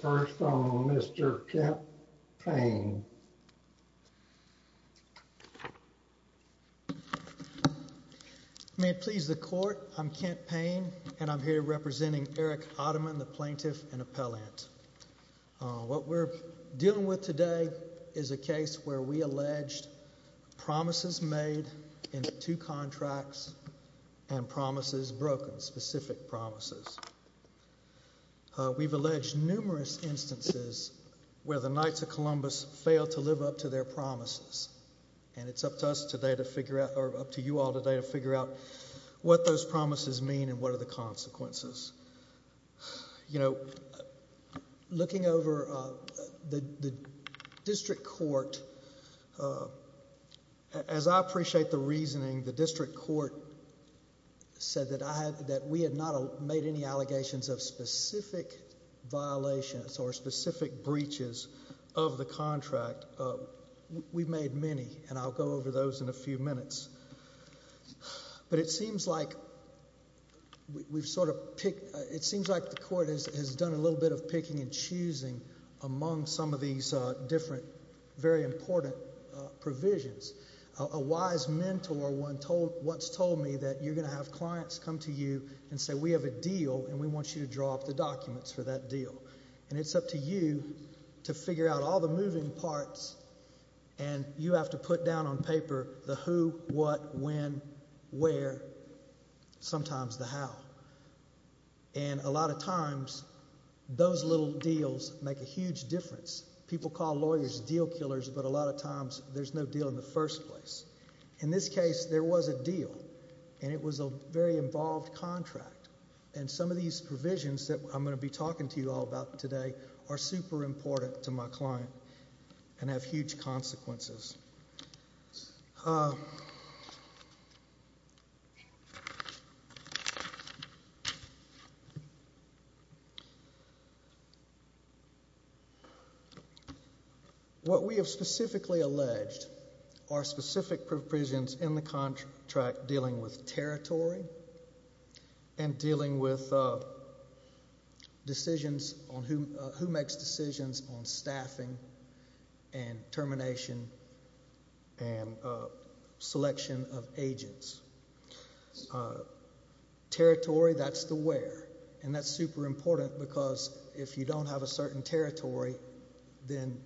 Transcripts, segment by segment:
First on Mr. Kent Payne. May it please the court, I'm Kent Payne and I'm here representing Eric Otteman, the plaintiff and appellant. What we're dealing with today is a case where we alleged promises made in two contracts and promises broken, specific promises. We've alleged numerous instances where the Knights of Columbus failed to live up to their promises and it's up to us today to figure out or up to you all today to figure out what those promises mean and what are the consequences. You know, looking over the district court, as I appreciate the reasoning, the district court said that we had not made any allegations of specific violations or specific breaches of the contract. We've made many and I'll go over those in a few minutes. But it seems like we've sort of picked, it seems like the court has done a little bit of picking and choosing among some of these different, very important provisions. A wise mentor once told me that you're going to have clients come to you and say we have a deal and we want you to draw up the documents for that deal. And it's up to you to figure out all the moving parts and you have to put down on paper the who, what, when, where, sometimes the how. And a lot of times those little deals make a huge difference. People call lawyers deal killers, but a lot of times there's no deal in the first place. In this case, there was a deal and it was a very involved contract. And some of these provisions that I'm going to be talking to you all about today are super important to my are specific provisions in the contract dealing with territory and dealing with decisions on who makes decisions on staffing and termination and selection of agents. Territory, that's the where. And that's super important because if you don't have a certain territory, then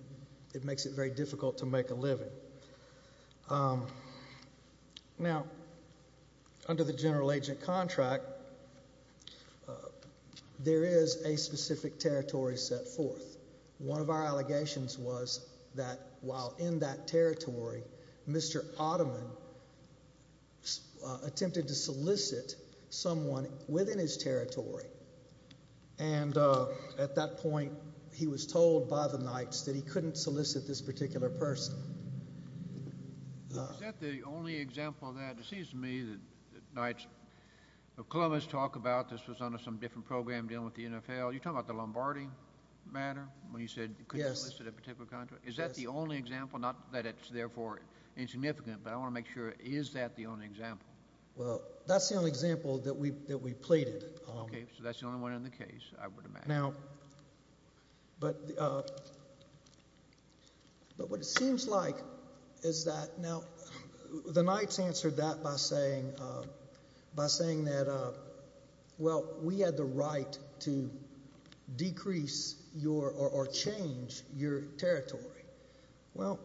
it makes it very difficult to make a living. Now, under the general agent contract, there is a specific territory set forth. One of our allegations was that while in that territory, Mr. Ottoman had attempted to solicit someone within his territory. And at that point, he was told by the Knights that he couldn't solicit this particular person. Is that the only example of that? It seems to me that the Knights of Columbus talk about this was under some different program dealing with the NFL. You're talking about the Lombardi matter, when you said you couldn't solicit a particular Is that the only example? Not that it's therefore insignificant, but I want to make sure, is that the only example? Well, that's the only example that we that we plated. Okay, so that's the only one in the case. Now, but what it seems like is that now, the Knights answered that by saying that, well, we had the right to decrease your or change your territory. Well,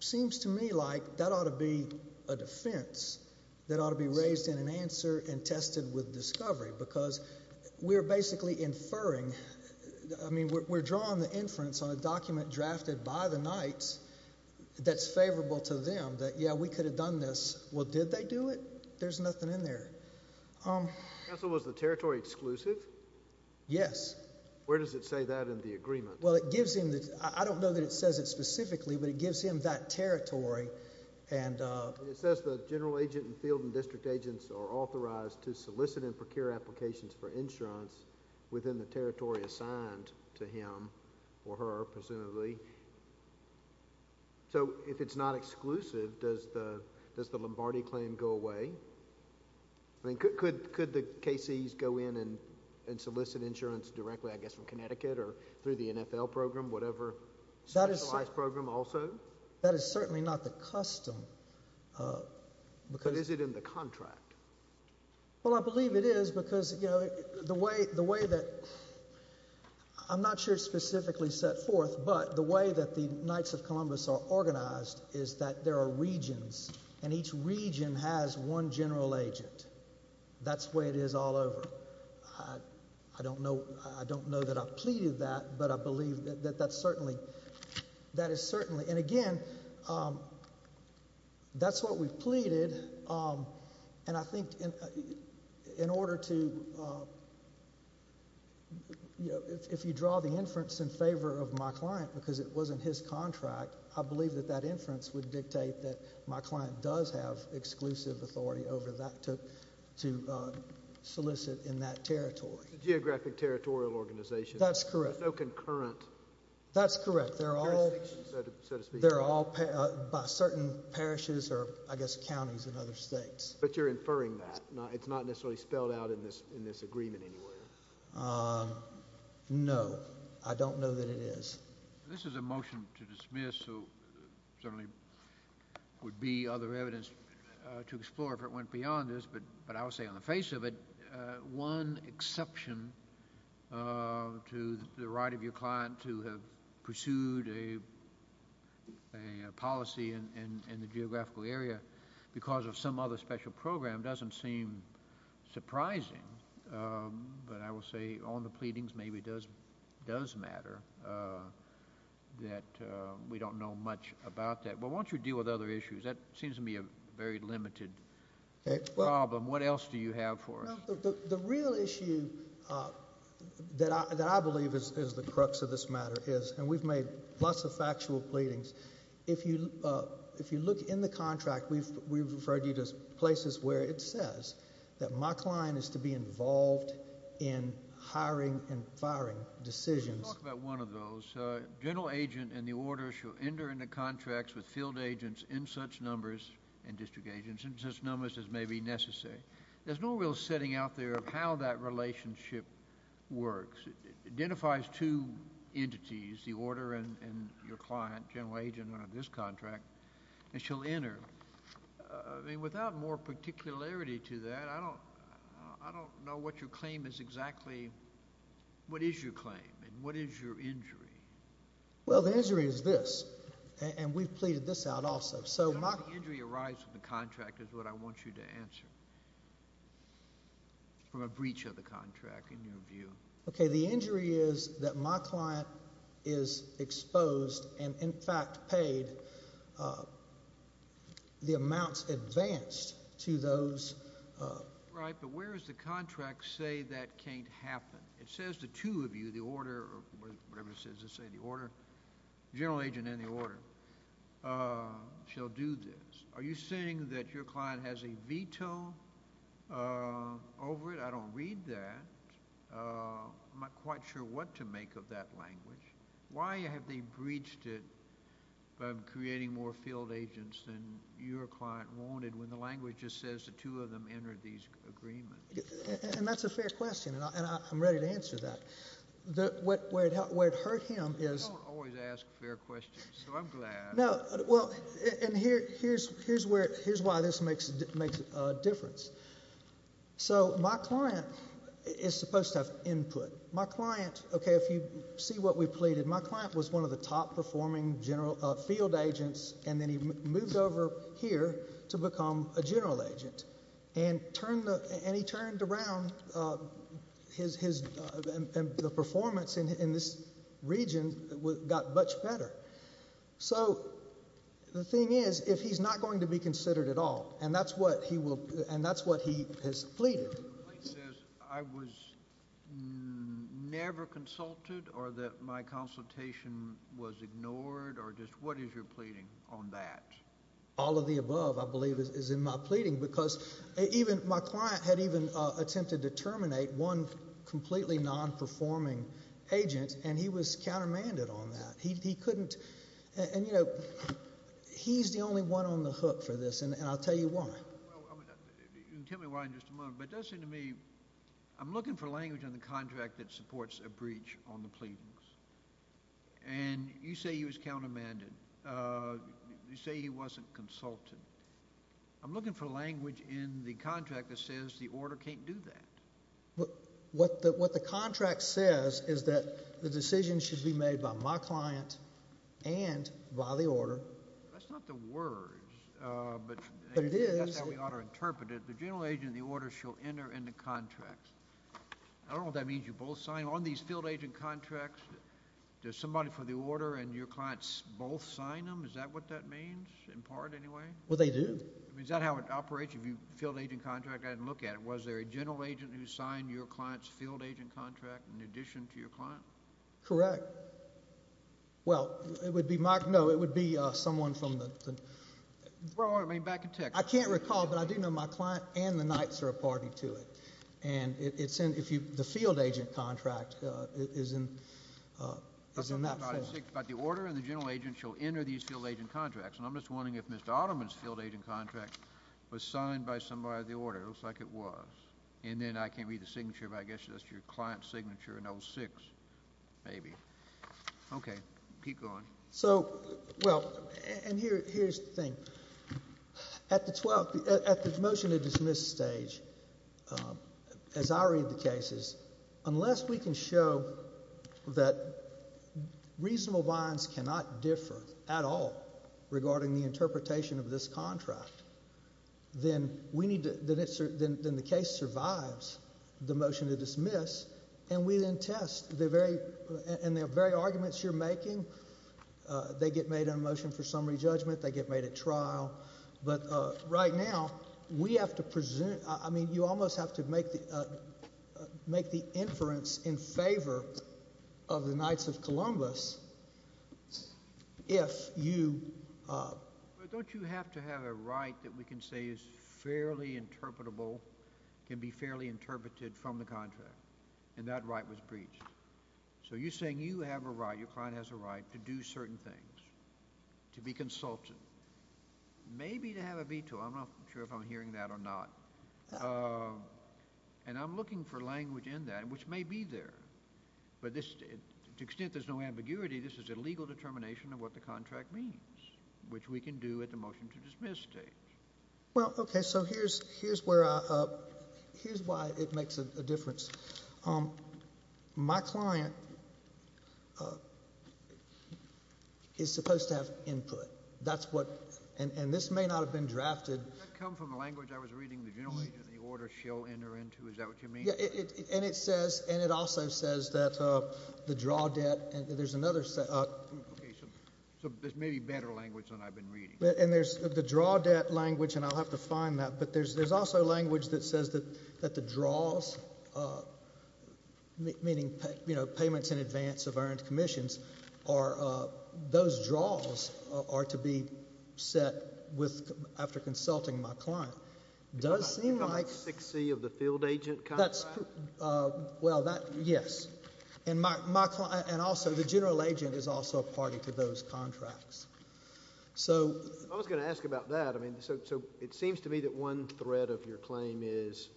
seems to me like that ought to be a defense that ought to be raised in an answer and tested with discovery, because we're basically inferring. I mean, we're drawing the inference on a document drafted by the Knights that's favorable to them that, yeah, we could have done this. Well, did they do it? There's nothing in there. So was the territory exclusive? Yes. Where does it say that in the agreement? Well, it gives him the I don't know that it says it specifically, but it gives him that territory. And it says the general agent and field and district agents are authorized to solicit and procure applications for insurance within the territory assigned to him or her, presumably. So if it's not exclusive, does the Lombardi claim go away? I mean, could the KC's go in and solicit insurance directly, I guess, from Connecticut or through the NFL program, whatever specialized program also? That is certainly not the custom. But is it in the contract? Well, I believe it is because, you know, the way that I'm not sure specifically set forth, but the way that the Knights of Columbus are each region has one general agent. That's the way it is all over. I don't know that I pleaded that, but I believe that that is certainly. And again, that's what we pleaded. And I think in order to, you know, if you draw the inference in favor of my client because it wasn't his contract, I believe that that inference would dictate that my client does have exclusive authority over that to solicit in that territory. It's a geographic territorial organization. That's correct. There's no concurrent. That's correct. They're all by certain parishes or, I guess, counties in other states. But you're inferring that. It's not necessarily spelled out in this agreement anywhere. No, I don't know that it is. This is a motion to dismiss, so certainly would be other evidence to explore if it went beyond this. But I would say on the face of it, one exception to the right of your client to have pursued a policy in the geographical area because of some other special program doesn't seem surprising. But I will say on the pleadings, maybe it does matter that we don't know much about that. But once you deal with other issues, that seems to me a very limited problem. What else do you have for us? The real issue that I believe is the crux of this matter is, and we've made lots of factual pleadings, if you look in the contract, we've referred you to places where it says that my client is to be involved in hiring and firing decisions. Let me talk about one of those. General agent and the order shall enter into contracts with field agents in such numbers and district agents in such numbers as may be necessary. There's no real setting out there of how that relationship works. It identifies two entities, the order and your client, general agent under this contract, and shall enter. I mean, without more particularity to that, I don't know what your claim is exactly. What is your claim and what is your injury? Well, the injury is this, and we've pleaded this out also. How does the injury arise with the contract is what I want you to answer from a breach of the contract in your view. Okay. The injury is that my client is exposed and, in fact, paid the amounts advanced to those. Right, but where does the contract say that can't happen? It says the two of you, the order or whatever it says to say the order, general agent and the order, shall do this. Are you saying that your client has a veto over it? I don't read that. I'm not quite sure what to make of that language. Why have they breached it by creating more field agents than your client wanted when the language just says the two of them entered these agreements? And that's a fair question, and I'm ready to answer that. Where it hurt him is— You don't always ask fair questions, so I'm glad. No, well, and here's why this makes a difference. So my client is supposed to have input. My client, okay, if you see what we pleaded, my client was one of the top performing field agents, and then he moved over here to become a general agent, and he turned around, and the performance in this region got much better. So the thing is, if he's not going to be considered at all, and that's what he will, and that's what he has pleaded— The complaint says, I was never consulted or that my consultation was ignored or just what is your pleading on that? All of the above, I believe, is in my pleading because even my client had even attempted to terminate one completely non-performing agent, and he was countermanded on that. He couldn't— And, you know, he's the only one on the hook for this, and I'll tell you why. You can tell me why in just a moment, but it does seem to me, I'm looking for language on the contract that supports a breach on the pleadings, and you say he was countermanded. You say he wasn't consulted. I'm looking for language in the contract that says the order can't do that. What the contract says is that the decision should be made by my client and by the order. That's not the words, but that's how we ought to interpret it. The general agent of the order shall enter into contracts. I don't know what that means. You both sign on these field agent contracts. There's somebody for the order, and your clients both sign them. Is that what that means, in part, anyway? Well, they do. Is that how it operates? If you field agent contract, I didn't look at it. Was there a general agent who signed your client's field agent contract in addition to your client? Correct. Well, it would be my—no, it would be someone from the— Well, I mean, back in Texas. I can't recall, but I do know my client and the Knights are a party to it, and it's in—the field agent contract is in that form. But the order and the general agent shall enter these field agent contracts, and I'm just wondering if Mr. Ottoman's field agent contract was signed by somebody of the order. It looks like it was, and then I can't read the signature, but I guess that's your client's signature in 06, maybe. Okay. Keep going. So, well, and here's the thing. At the 12th—at the motion to dismiss stage, as I read the cases, unless we can show that reasonable binds cannot differ at all regarding the interpretation of this contract, then we need to—then the case survives the motion to dismiss, and we then test the very—and the very arguments you're making, they get made in a motion for summary judgment, they get made at trial. But right now, we have to—I mean, you almost have to make the inference in favor of the Knights of Columbus if you— But don't you have to have a right that we can say is fairly interpretable, can be fairly interpreted from the contract, and that right was breached? So you're saying you have a right, your client has a right to do certain things, to be consulted, maybe to have a veto. I'm not sure if I'm hearing that or not, and I'm looking for language in that, which may be there, but to the extent there's no ambiguity, this is a legal determination of what the contract means, which we can do at the motion to dismiss stage. Well, okay, so here's where I—here's why it makes a difference. My client is supposed to have input. That's what—and this may not have been drafted— Did that come from the language I was reading, the general agent, the order she'll enter into? Is that what you mean? Yeah, and it says—and it also says that the draw debt—and there's another— Okay, so there's maybe better language than I've been reading. And there's the draw debt language, and I'll have to find that, but there's also language that says that the draws, meaning, you know, payments in advance of earned commissions, are—those draws are to be set with—after consulting my client. It does seem like— Number 6C of the field agent contract? That's—well, that—yes. And my client—and also, the general agent is also a party to those contracts. So— I was going to ask about that. I mean, so it seems to me that one thread of your claim is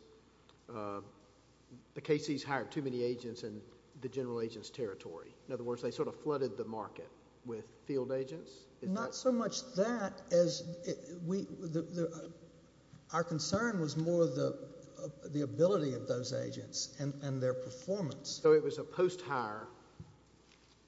the KC's hired too many agents in the general agent's territory. In other words, they sort of flooded the market with field agents? Is that— Not so much that as we—our concern was more the ability of those agents and their performance. So it was a post-hire—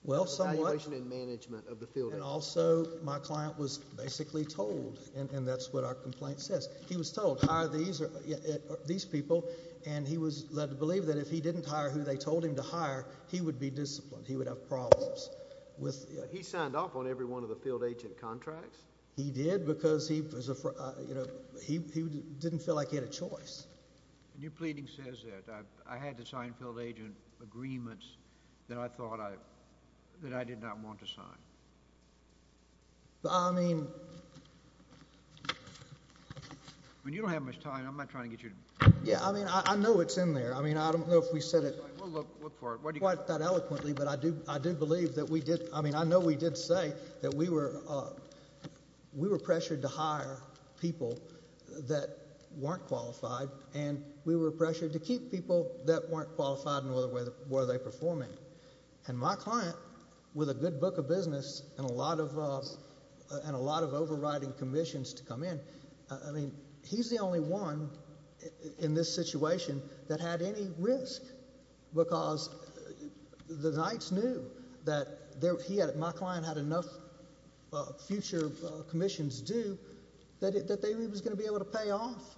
Well, somewhat— —evaluation and management of the field agents. And also, my client was basically told, and that's what our complaint says. He was told, hire these people, and he was led to believe that if he didn't hire who they told him to hire, he would be disciplined. He would have problems with— He signed off on every one of the field agent contracts? He did because he was—you know, he didn't feel like he had a choice. And your pleading says that. I had to sign field agent agreements that I thought I—that I did not want to sign. I mean— When you don't have much time, I'm not trying to get you to— Yeah, I mean, I know it's in there. I mean, I don't know if we said it— We'll look for it. What do you— —quite that eloquently, but I do—I do believe that we did—I mean, I know we did say that we were—we were pressured to hire people that weren't qualified, and we were pressured to keep people that weren't qualified no matter where they performed in. And my client, with a good book of business and a lot of—and a lot of overriding commissions to come in, I mean, he's the only one in this situation that had any risk because the Knights knew that there—he had—my client had enough future commissions due that they was going to be able to pay off.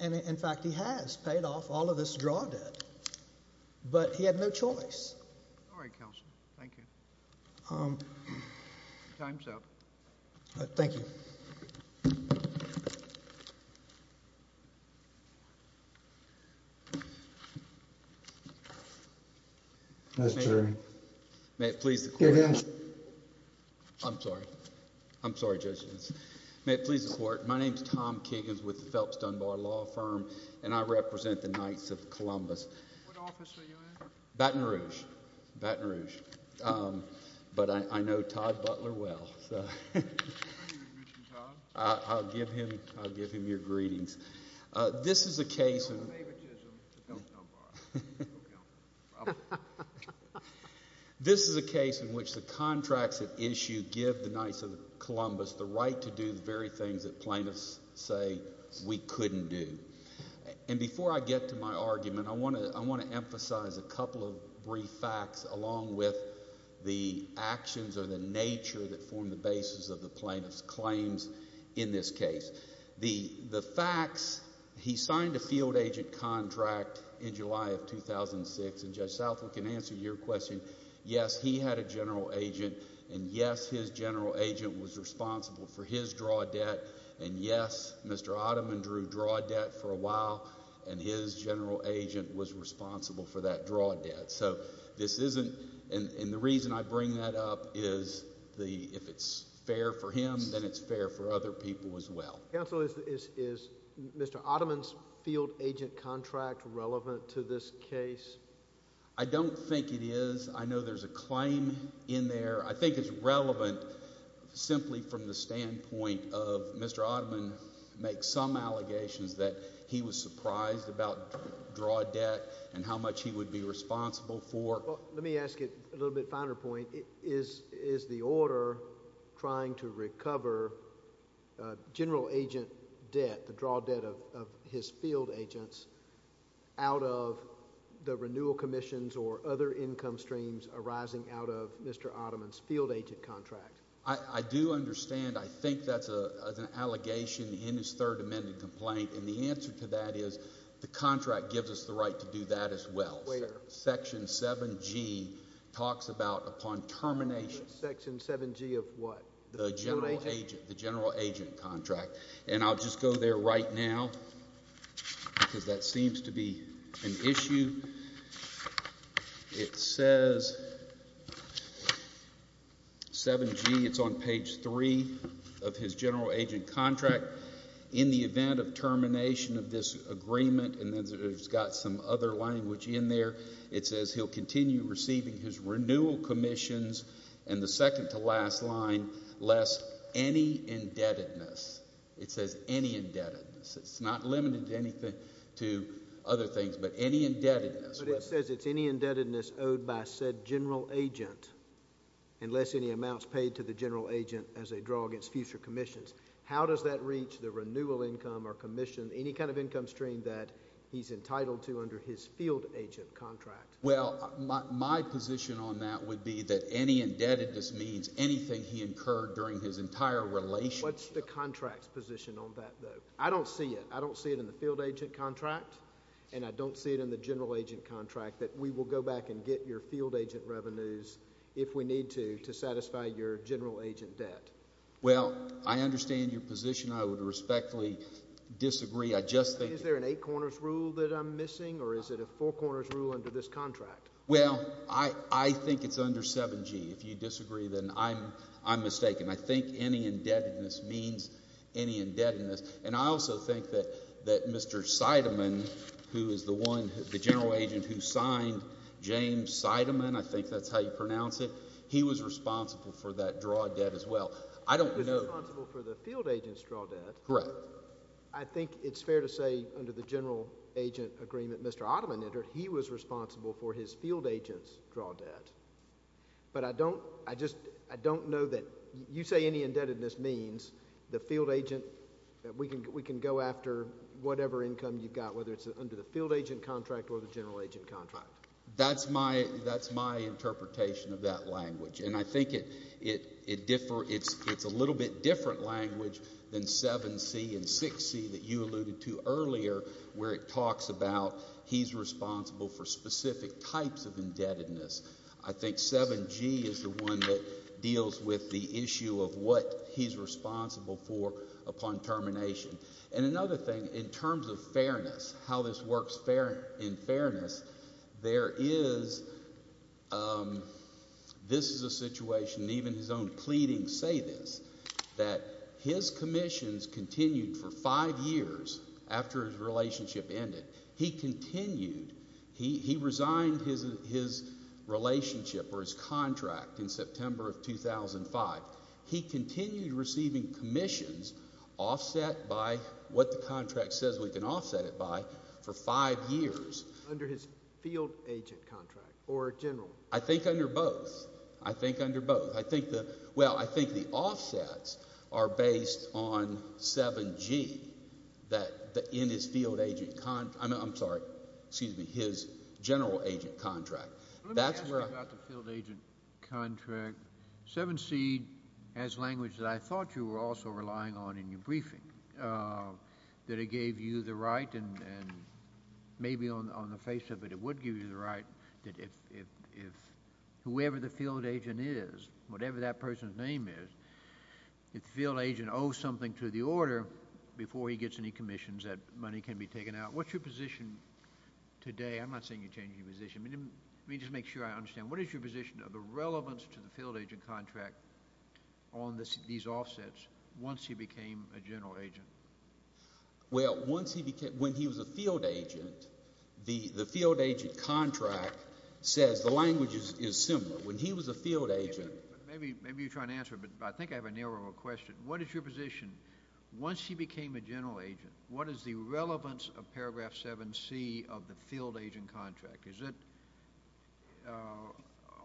And in fact, he has paid off all of his draw debt, but he had no choice. All right, counsel. Thank you. Time's up. Thank you. Mr. Kagan. May it please the Court— Kagan. I'm sorry. I'm sorry, Judges. May it please the Court. My name is Tom Kagan with the Phelps Dunbar Law Firm, and I represent the Knights of Columbus. What office are you in? Baton Rouge. Baton Rouge. But I know Todd Butler well, so— Can you introduce me to Todd? I'll give him—I'll give him your greetings. This is a case— I'm David Chisholm with the Phelps Dunbar. This is a case in which the contracts at issue give the Knights of Columbus the right to do the very things that plaintiffs say we couldn't do. And before I get to my argument, I want to—I want to emphasize a couple of brief facts along with the actions or the nature that form the claims in this case. The facts—he signed a field agent contract in July of 2006, and Judge Southwell can answer your question. Yes, he had a general agent, and yes, his general agent was responsible for his draw debt, and yes, Mr. Ottoman drew draw debt for a while, and his general agent was responsible for that draw debt. So this isn't—and the reason I bring that up is if it's fair for him, then it's fair for other people as well. Counsel, is Mr. Ottoman's field agent contract relevant to this case? I don't think it is. I know there's a claim in there. I think it's relevant simply from the standpoint of Mr. Ottoman makes some allegations that he was surprised about draw debt and how much he would be responsible for. Well, let me ask you a little finer point. Is the order trying to recover general agent debt, the draw debt of his field agents, out of the renewal commissions or other income streams arising out of Mr. Ottoman's field agent contract? I do understand. I think that's an allegation in his third amended complaint, and the answer to that is the contract gives us the right to do that as well. Section 7G talks about upon termination— Section 7G of what? The general agent contract, and I'll just go there right now because that seems to be an issue. It says 7G. It's on page 3 of his general agent contract. In the event of termination of this agreement, and then it's got some other language in there, it says he'll continue receiving his renewal commissions, and the second to last line, lest any indebtedness. It says any indebtedness. It's not limited to other things, but any indebtedness. But it says it's any indebtedness owed by said general agent, unless any amounts paid to the general agent as a draw against future commissions. How does that reach the renewal income or commission, any kind of income stream that he's entitled to under his field agent contract? Well, my position on that would be that any indebtedness means anything he incurred during his entire relationship. What's the contract's position on that, though? I don't see it. I don't see it in the field agent contract, and I don't see it in the general agent contract that we will go back and get your field agent revenues if we need to, to satisfy your general agent debt. Well, I understand your position. I would respectfully disagree. I just think... Is there an eight corners rule that I'm missing, or is it a four corners rule under this contract? Well, I think it's under 7G. If you disagree, then I'm mistaken. I think any indebtedness means any indebtedness, and I also think that Mr. Sideman, who is the one, the general agent who signed James Sideman, I think that's how you pronounce it, he was responsible for that draw debt as well. I don't know... He was responsible for the field agent's draw debt. Correct. I think it's fair to say under the general agent agreement Mr. Ottoman entered, he was responsible for his field agent's draw debt, but I don't, I just, I don't know that you say any indebtedness means the field agent, we can go after whatever income you've got, whether it's under the field agent contract or the general agent contract. That's my, that's my interpretation of that language, and I think it, it, it differ, it's, it's a little bit different language than 7C and 6C that you alluded to earlier, where it talks about he's responsible for specific types of indebtedness. I think 7G is the one that deals with the issue of what he's responsible for upon termination. And another thing, in terms of fairness, how this works fair, in fairness, there is, this is a situation, even his own pleadings say this, that his commissions continued for five years after his relationship ended. He continued, he, he resigned his, his relationship or his contract in September of 2005. He continued receiving commissions offset by what the contract says we can offset it by for five years. Under his field agent contract or general? I think under both. I think under both. I think the, well, I think the offsets are based on 7G that in his field agent, I'm sorry, excuse me, his general agent contract. Let me ask you about the field agent contract. 7C has language that I thought you were also relying on in your briefing, that it gave you the right and, and maybe on, on the face of it, it would give you the right that if, if, if whoever the field agent is, whatever that person's name is, if the field agent owes something to the order before he gets any commissions, that money can be taken out. What's your position today? I'm not saying you change your position. I mean, let me just make sure I understand. What is your position of the relevance to the field agent contract on this, these offsets once he became a general agent? Well, once he became, when he was a field agent, the, the field agent contract says the language is similar. When he was a field agent. Maybe, maybe you're trying to answer, but I think I have a narrow question. What is your position once he became a general agent? What is the relevance of paragraph 7C of the field agent contract? Is it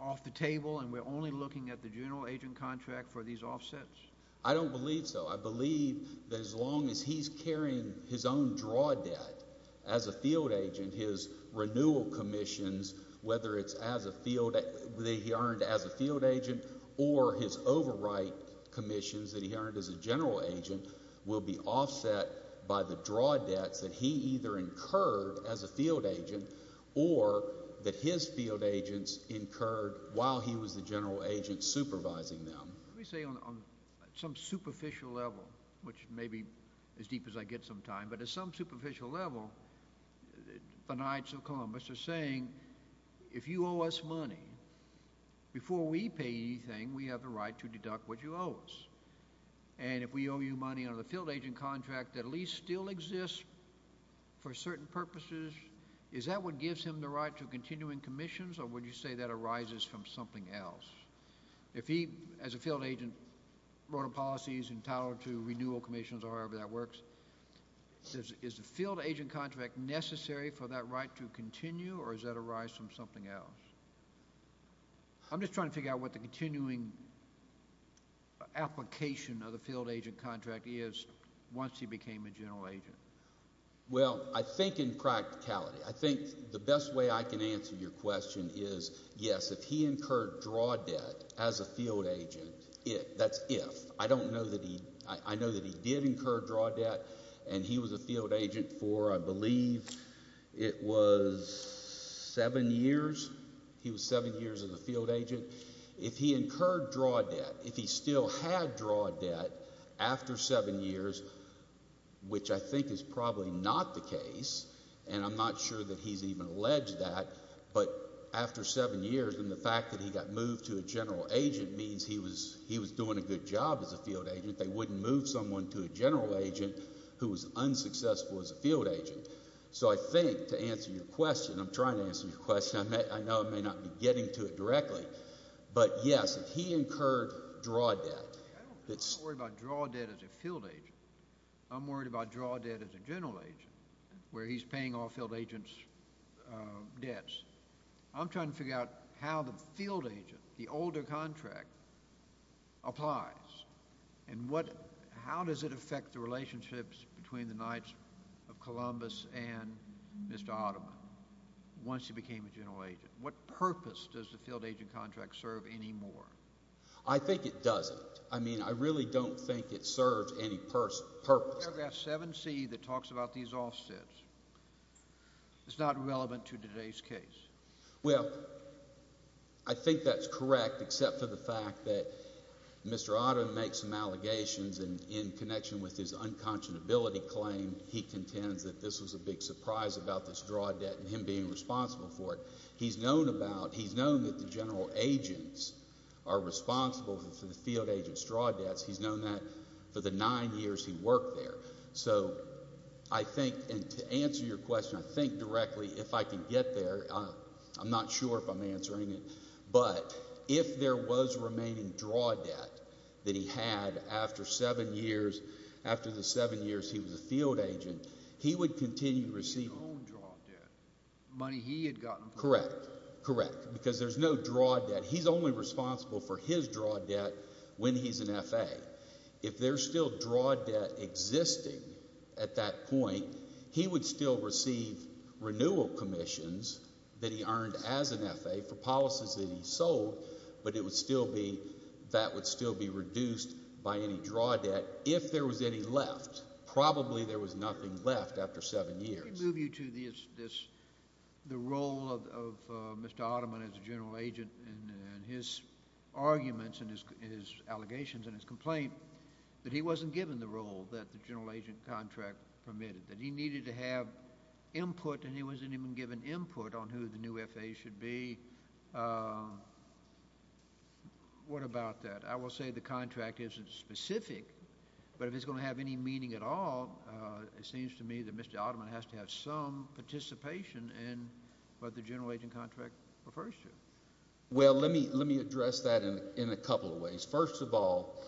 off the table and we're only looking at the general agent contract for these offsets? I don't believe so. I believe that as long as he's carrying his own draw debt as a field agent, his renewal commissions, whether it's as a field that he earned as a field agent or his overwrite commissions that he earned as a general agent will be offset by the draw debts that he either incurred as a field agent or that his field agents incurred while he was the general agent supervising them. Let me say on some superficial level, which may be as deep as I get sometime, but at some superficial level, the Knights of Columbus are saying, if you owe us money before we pay anything, we have the right to deduct what you owe us. And if we owe you money on the field agent contract that at least still exists for certain purposes, is that what gives him the right to continuing commissions? Or would you say that arises from something else? If he, as a field agent, wrote a policy entitled to renewal commissions or however that works, is the field agent contract necessary for that right to continue or does that arise from something else? I'm just trying to figure out what the continuing application of the field agent contract is once he became a general agent. Well, I think in practicality. I think the best way I can answer your question is, yes, if he incurred draw debt as a field agent, that's if. I know that he did incur draw debt and he was a field agent for, I believe, it was seven years. He was seven years as a field agent. If he incurred draw debt after seven years, which I think is probably not the case, and I'm not sure that he's even alleged that, but after seven years and the fact that he got moved to a general agent means he was doing a good job as a field agent. They wouldn't move someone to a general agent who was unsuccessful as a field agent. So I think, to answer your question, I'm trying to answer your question. I don't worry about draw debt as a field agent. I'm worried about draw debt as a general agent where he's paying all field agents debts. I'm trying to figure out how the field agent, the older contract, applies and how does it affect the relationships between the Knights of Columbus and Mr. Ottoman once he became a general agent? What purpose does the field agent contract serve anymore? I think it doesn't. I mean, I really don't think it serves any purpose. Paragraph 7c that talks about these offsets is not relevant to today's case. Well, I think that's correct except for the fact that Mr. Ottoman makes some allegations in connection with his unconscionability claim. He contends that this was a big surprise about this draw debt and him being responsible for it. He's known that the general agents are responsible for the field agents' draw debts. He's known that for the nine years he worked there. So I think, and to answer your question, I think directly, if I can get there, I'm not sure if I'm answering it, but if there was remaining draw debt that he had after seven years, after the seven years he was a field agent, he would continue receiving. His own draw debt, money he had gotten. Correct, correct, because there's no draw debt. He's only responsible for his draw debt when he's an F.A. If there's still draw debt existing at that point, he would still receive renewal commissions that he earned as an F.A. for seven years, but it would still be, that would still be reduced by any draw debt if there was any left. Probably there was nothing left after seven years. Let me move you to this, the role of Mr. Ottoman as a general agent and his arguments and his allegations and his complaint that he wasn't given the role that the general agent contract permitted. That he needed to have input and he wasn't even given input on who the new F.A. should be. What about that? I will say the contract isn't specific, but if it's going to have any meaning at all, it seems to me that Mr. Ottoman has to have some participation in what the general agent contract refers to. Well, let me address that in a couple of ways. First of all,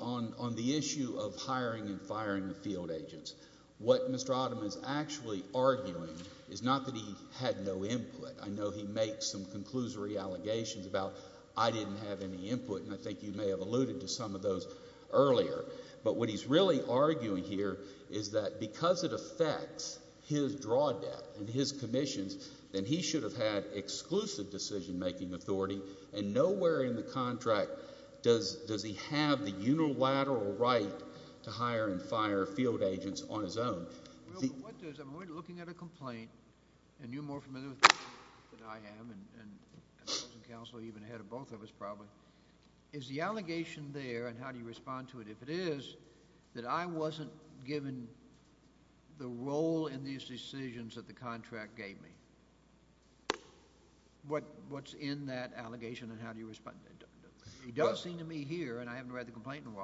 on the issue of hiring and firing the field agents, what Mr. Ottoman said is not that he had no input. I know he makes some conclusory allegations about I didn't have any input, and I think you may have alluded to some of those earlier, but what he's really arguing here is that because it affects his draw debt and his commissions, then he should have had exclusive decision-making authority, and nowhere in the contract does he have the unilateral right to hire and fire field agents on his own. We're looking at a complaint, and you're more familiar with that than I am, and counsel even ahead of both of us probably, is the allegation there, and how do you respond to it, if it is that I wasn't given the role in these decisions that the contract gave me. What's in that allegation and how do you respond? It does seem to me here, and I haven't read the contract, and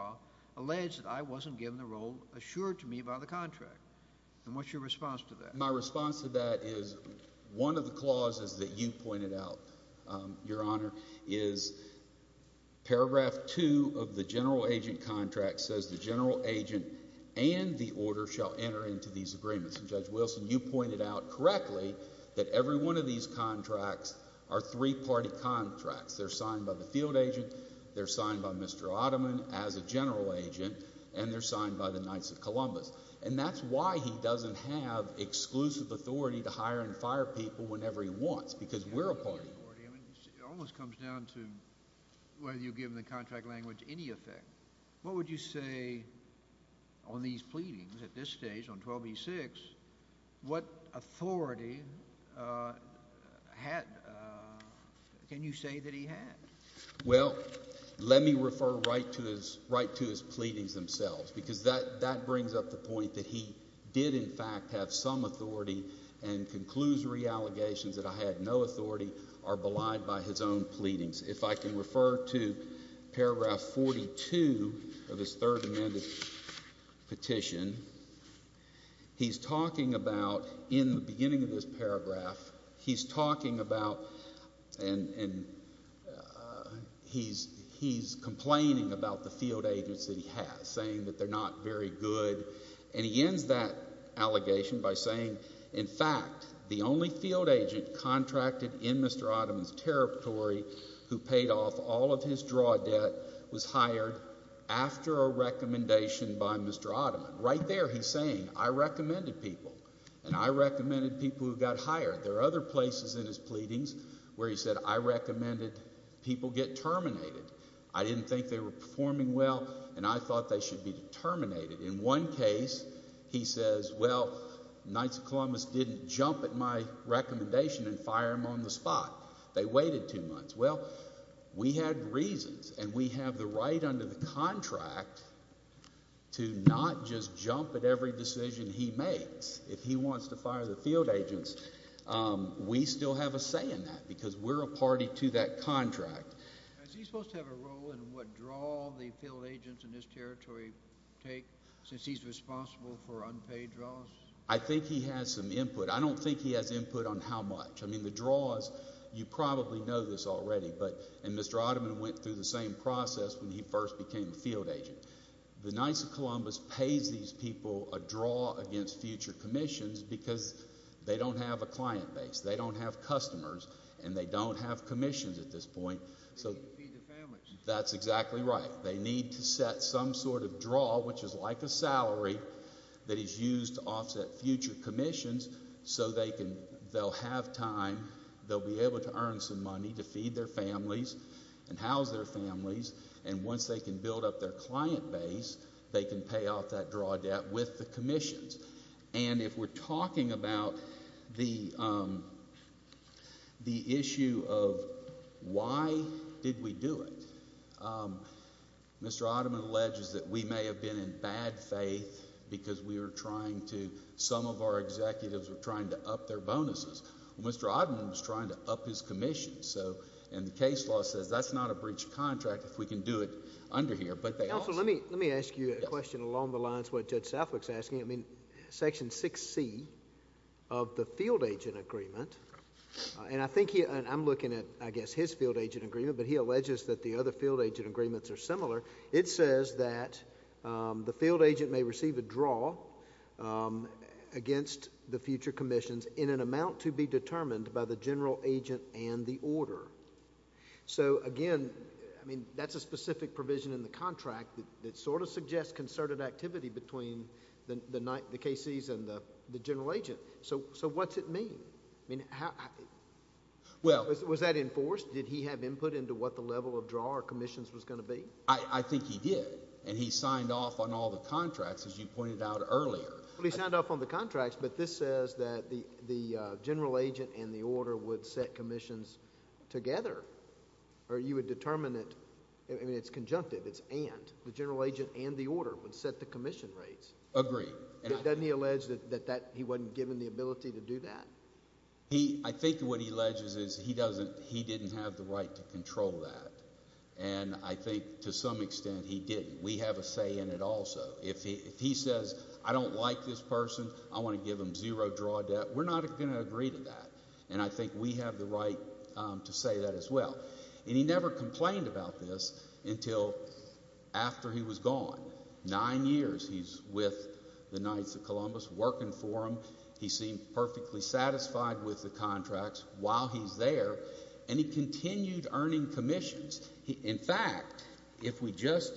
what's your response to that? My response to that is one of the clauses that you pointed out, Your Honor, is paragraph two of the general agent contract says the general agent and the order shall enter into these agreements, and Judge Wilson, you pointed out correctly that every one of these contracts are three-party contracts. They're signed by the field agent, they're signed by Mr. Ottoman as a general agent, and they're signed by the Knights of Columbus, and that's why he doesn't have exclusive authority to hire and fire people whenever he wants, because we're a party. It almost comes down to whether you give the contract language any effect. What would you say on these pleadings at this stage on 12b-6, what authority can you say that he had? Well, let me refer right to his pleadings themselves, because that brings up the point that he did, in fact, have some authority and conclusory allegations that I had no authority are belied by his own pleadings. If I can refer to paragraph 42 of his third amended petition, he's talking about, in the beginning of this paragraph, he's talking about and he's complaining about the field agents that he has, saying that they're not very good, and he ends that allegation by saying, in fact, the only field agent contracted in Mr. Ottoman's draw debt was hired after a recommendation by Mr. Ottoman. Right there, he's saying, I recommended people, and I recommended people who got hired. There are other places in his pleadings where he said, I recommended people get terminated. I didn't think they were performing well, and I thought they should be terminated. In one case, he says, well, Knights of Columbus didn't jump at my recommendation and fire him on the spot. They waited two months. Well, we had reasons, and we have the right under the contract to not just jump at every decision he makes. If he wants to fire the field agents, we still have a say in that, because we're a party to that contract. Is he supposed to have a role in what draw the field agents in this territory take, since he's responsible for unpaid draws? I think he has some input. I don't think he has already. Mr. Ottoman went through the same process when he first became a field agent. The Knights of Columbus pays these people a draw against future commissions, because they don't have a client base. They don't have customers, and they don't have commissions at this point. That's exactly right. They need to set some sort of draw, which is like a salary that is used to offset future commissions, so they'll have time. They'll be able to earn some money to feed their families and house their families. Once they can build up their client base, they can pay off that draw debt with the commissions. If we're talking about the issue of why did we do it, Mr. Ottoman alleges that we may have been in bad faith, because some of our executives were trying to up their bonuses. Mr. Ottoman was trying to up his commissions. The case law says that's not a breach of contract if we can do it under here. Let me ask you a question along the lines of what Judge Southwick is asking. Section 6C of the field agent agreement, and I'm looking at, I guess, his field agent agreement, but he alleges that the other field agent agreements are similar. It says that the field agent may receive a draw against the future commissions in an amount to be determined by the general agent and the order. Again, that's a specific provision in the contract that suggests concerted activity between the KCs and the general agent. What's it mean? Was that enforced? Did he have input into what the level of draw or commissions was going to be? I think he did, and he signed off on all the contracts, as you pointed out earlier. He signed off on the contracts, but this says that the general agent and the order would set commissions together, or you would determine it. I mean, it's conjunctive. It's and. The general agent and the order would set the commission rates. Agree. Doesn't he allege that he wasn't given the ability to do that? I think what he alleges is he didn't have the right to control that, and I think to some extent he didn't. We have a say in it also. If he says, I don't like this person. I want to give him zero draw debt. We're not going to agree to that, and I think we have the right to say that as well, and he never complained about this until after he was gone. Nine years he's with the Knights of Columbus working for him. He seemed perfectly satisfied with the contracts while he's there, and he continued earning commissions. In fact, if we just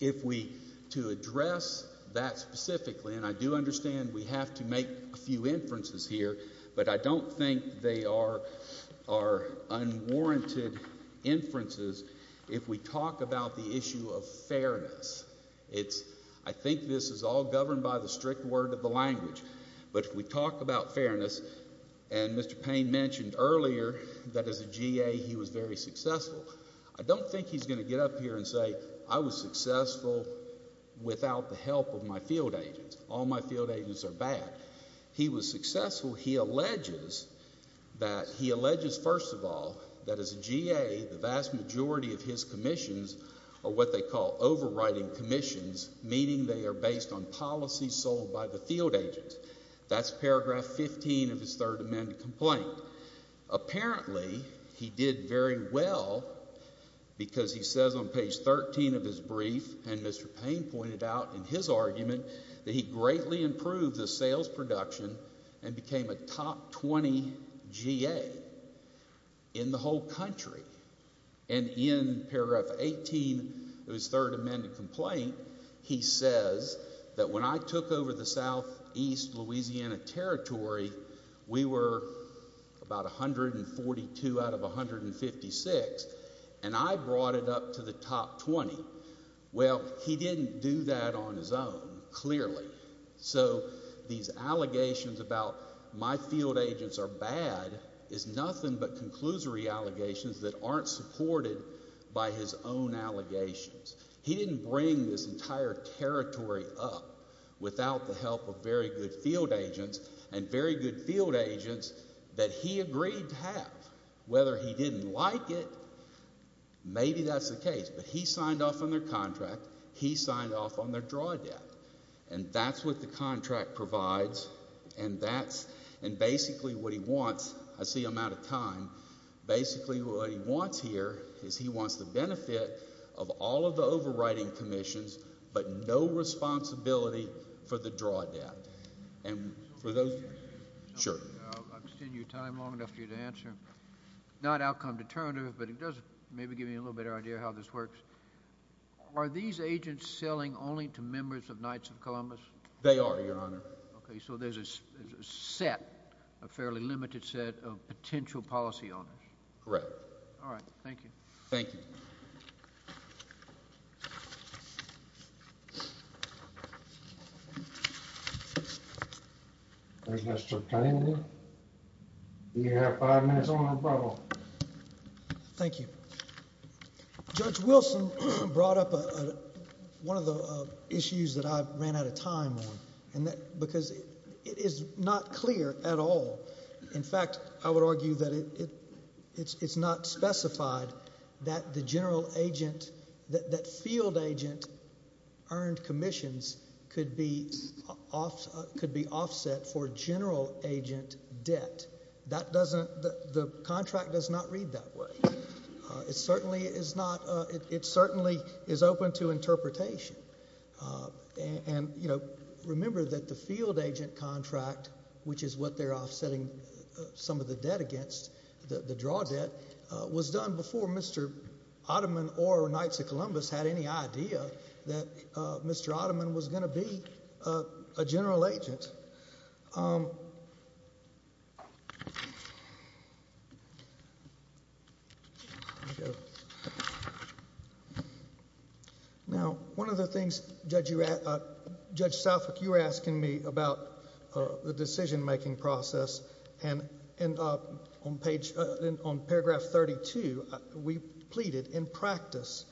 if we to address that specifically, and I do understand we have to make a few inferences here, but I don't think they are unwarranted inferences if we talk about the issue of fairness. It's I think this is all governed by the strict word of the language, but if we talk about fairness, and Mr. Payne mentioned earlier that as a G.A. he was very successful. I don't think he's going to get up here and say I was successful without the help of my field agents. All my field agents are bad. He was successful. He alleges that he alleges, first of all, that as a G.A. the vast majority of his commissions are what they call overriding commissions, meaning they are based on policies sold by the field agents. That's paragraph 15 of his third amendment complaint. Apparently, he did very well because he says on page 13 of his brief, and Mr. Payne pointed out in his argument, that he greatly improved the sales production and became a top 20 G.A. in the whole country, and in paragraph 18 of his third amendment complaint, he says that when I took over the southeast Louisiana territory, we were about 142 out of 156, and I brought it up to the top 20. Well, he didn't do that on his own, clearly, so these are bad is nothing but conclusory allegations that aren't supported by his own allegations. He didn't bring this entire territory up without the help of very good field agents and very good field agents that he agreed to have. Whether he didn't like it, maybe that's the case, but he signed off on their contract. He signed off on their draw debt, and that's what the contract provides, and that's basically what he wants. I see I'm out of time. Basically, what he wants here is he wants the benefit of all of the overriding commissions, but no responsibility for the draw debt. I'll extend your time long enough for you to answer. Not outcome determinative, but it does maybe give you a little better idea of how this works. Are these agents selling only to members of Knights of Columbus? They are, Your Honor. Okay, so there's a set, a fairly limited set of potential policy owners. Correct. All right. Thank you. Thank you. Mr. Kennedy, you have five minutes on the roll. Thank you. Judge Wilson brought up one of the issues that I ran out of time on, because it is not clear at all. In fact, I would argue that it's not specified that the general agent, that field agent earned commissions could be offset for general agent debt. That doesn't, the contract does not read that way. It certainly is not, it certainly is open to interpretation. And, you know, remember that the field agent contract, which is what they're offsetting some of the debt against, the draw debt, was done before Mr. Ottoman or Knights of Columbus had any idea that Mr. Ottoman was going to be a general agent. Now, one of the things, Judge Southwick, you were asking me about the decision-making process, and on paragraph 32, we pleaded in practice,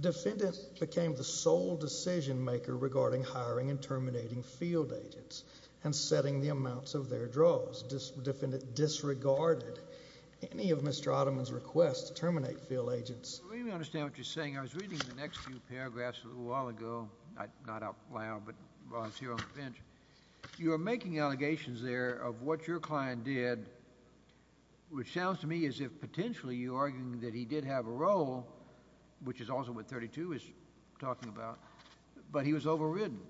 defendant became the sole decision-maker regarding hiring and terminating field agents and setting the amounts of their draws. Defendant disregarded any of Mr. Ottoman's requests to terminate field agents. I really understand what you're saying. I was reading the next few paragraphs a little while ago, not out loud, but while I was here on the bench. You are making allegations there of what your client did, which sounds to me as if potentially you're arguing that he did have a role, which is also what 32 is talking about, but he was overridden.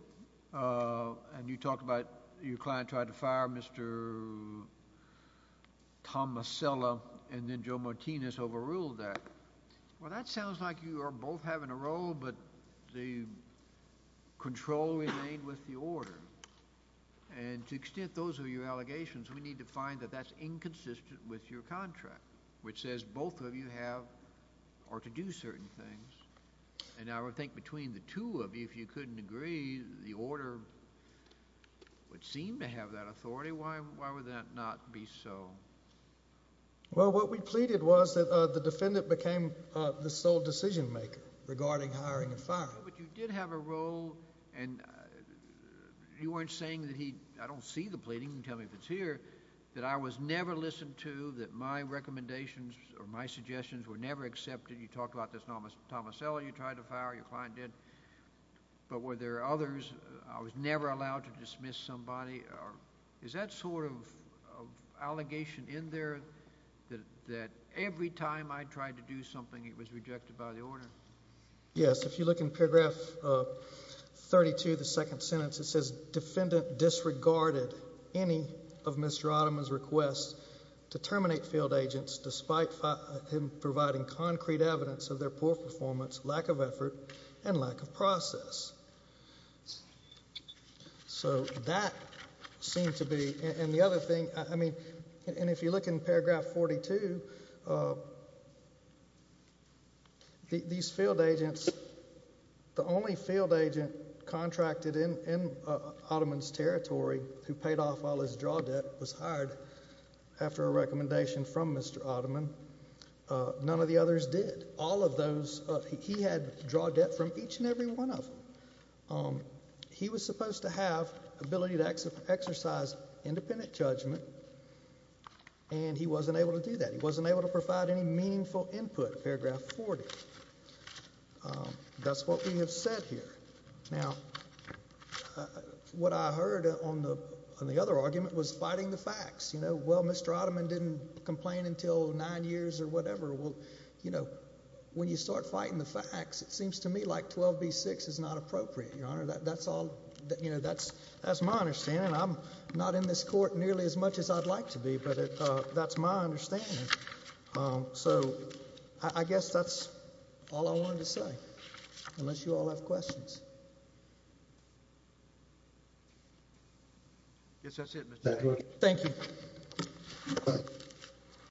And you talk about your client tried to fire Mr. Tomasella, and then Joe Martinez overruled that. Well, that sounds like you are both having a role, but the control remained with the order. And to the extent those are your allegations, we need to find that that's inconsistent with your contract, which says both of you have or to do certain things. And I would think between the two of you, if you couldn't agree, the order would seem to have that authority. Why would that not be so? Well, what we pleaded was that the defendant became the sole decision-maker regarding hiring and firing. But you did have a role, and you weren't saying that he, I don't see the pleading, tell me if it's here, that I was never listened to, that my recommendations or my suggestions were never accepted. You talked about this Tomasella you tried to fire, your client did, but were there others? I was never allowed to dismiss somebody. Is that sort of allegation in there that every time I tried to do something, it was rejected by the order? Yes, if you look in paragraph 32, the second sentence, it says defendant disregarded any of Mr. Ottoman's requests to terminate field agents, despite him providing concrete evidence of their poor performance, lack of effort, and lack of process. So that seemed to be, and the other thing, I mean, and if you look in paragraph 42, these field agents, the only field agent contracted in Ottoman's territory who paid off all his draw debt was hired after a recommendation from Mr. Ottoman. None of the others did. All of those, he had draw debt from each and every one of them. He was supposed to have ability to exercise independent judgment, and he wasn't able to do that. He wasn't able to provide any meaningful input, paragraph 40. That's what we have said here. Now, what I heard on the other argument was fighting the facts. You know, well, Mr. Ottoman didn't complain until nine years or whatever. Well, you know, when you start fighting the facts, it seems to me like 12b-6 is not appropriate, Your Honor. That's all, you know, that's my understanding. I'm not in this court nearly as much as I'd like to be, but that's my understanding. So I guess that's all I wanted to say, unless you all have questions. Yes, that's it. Thank you.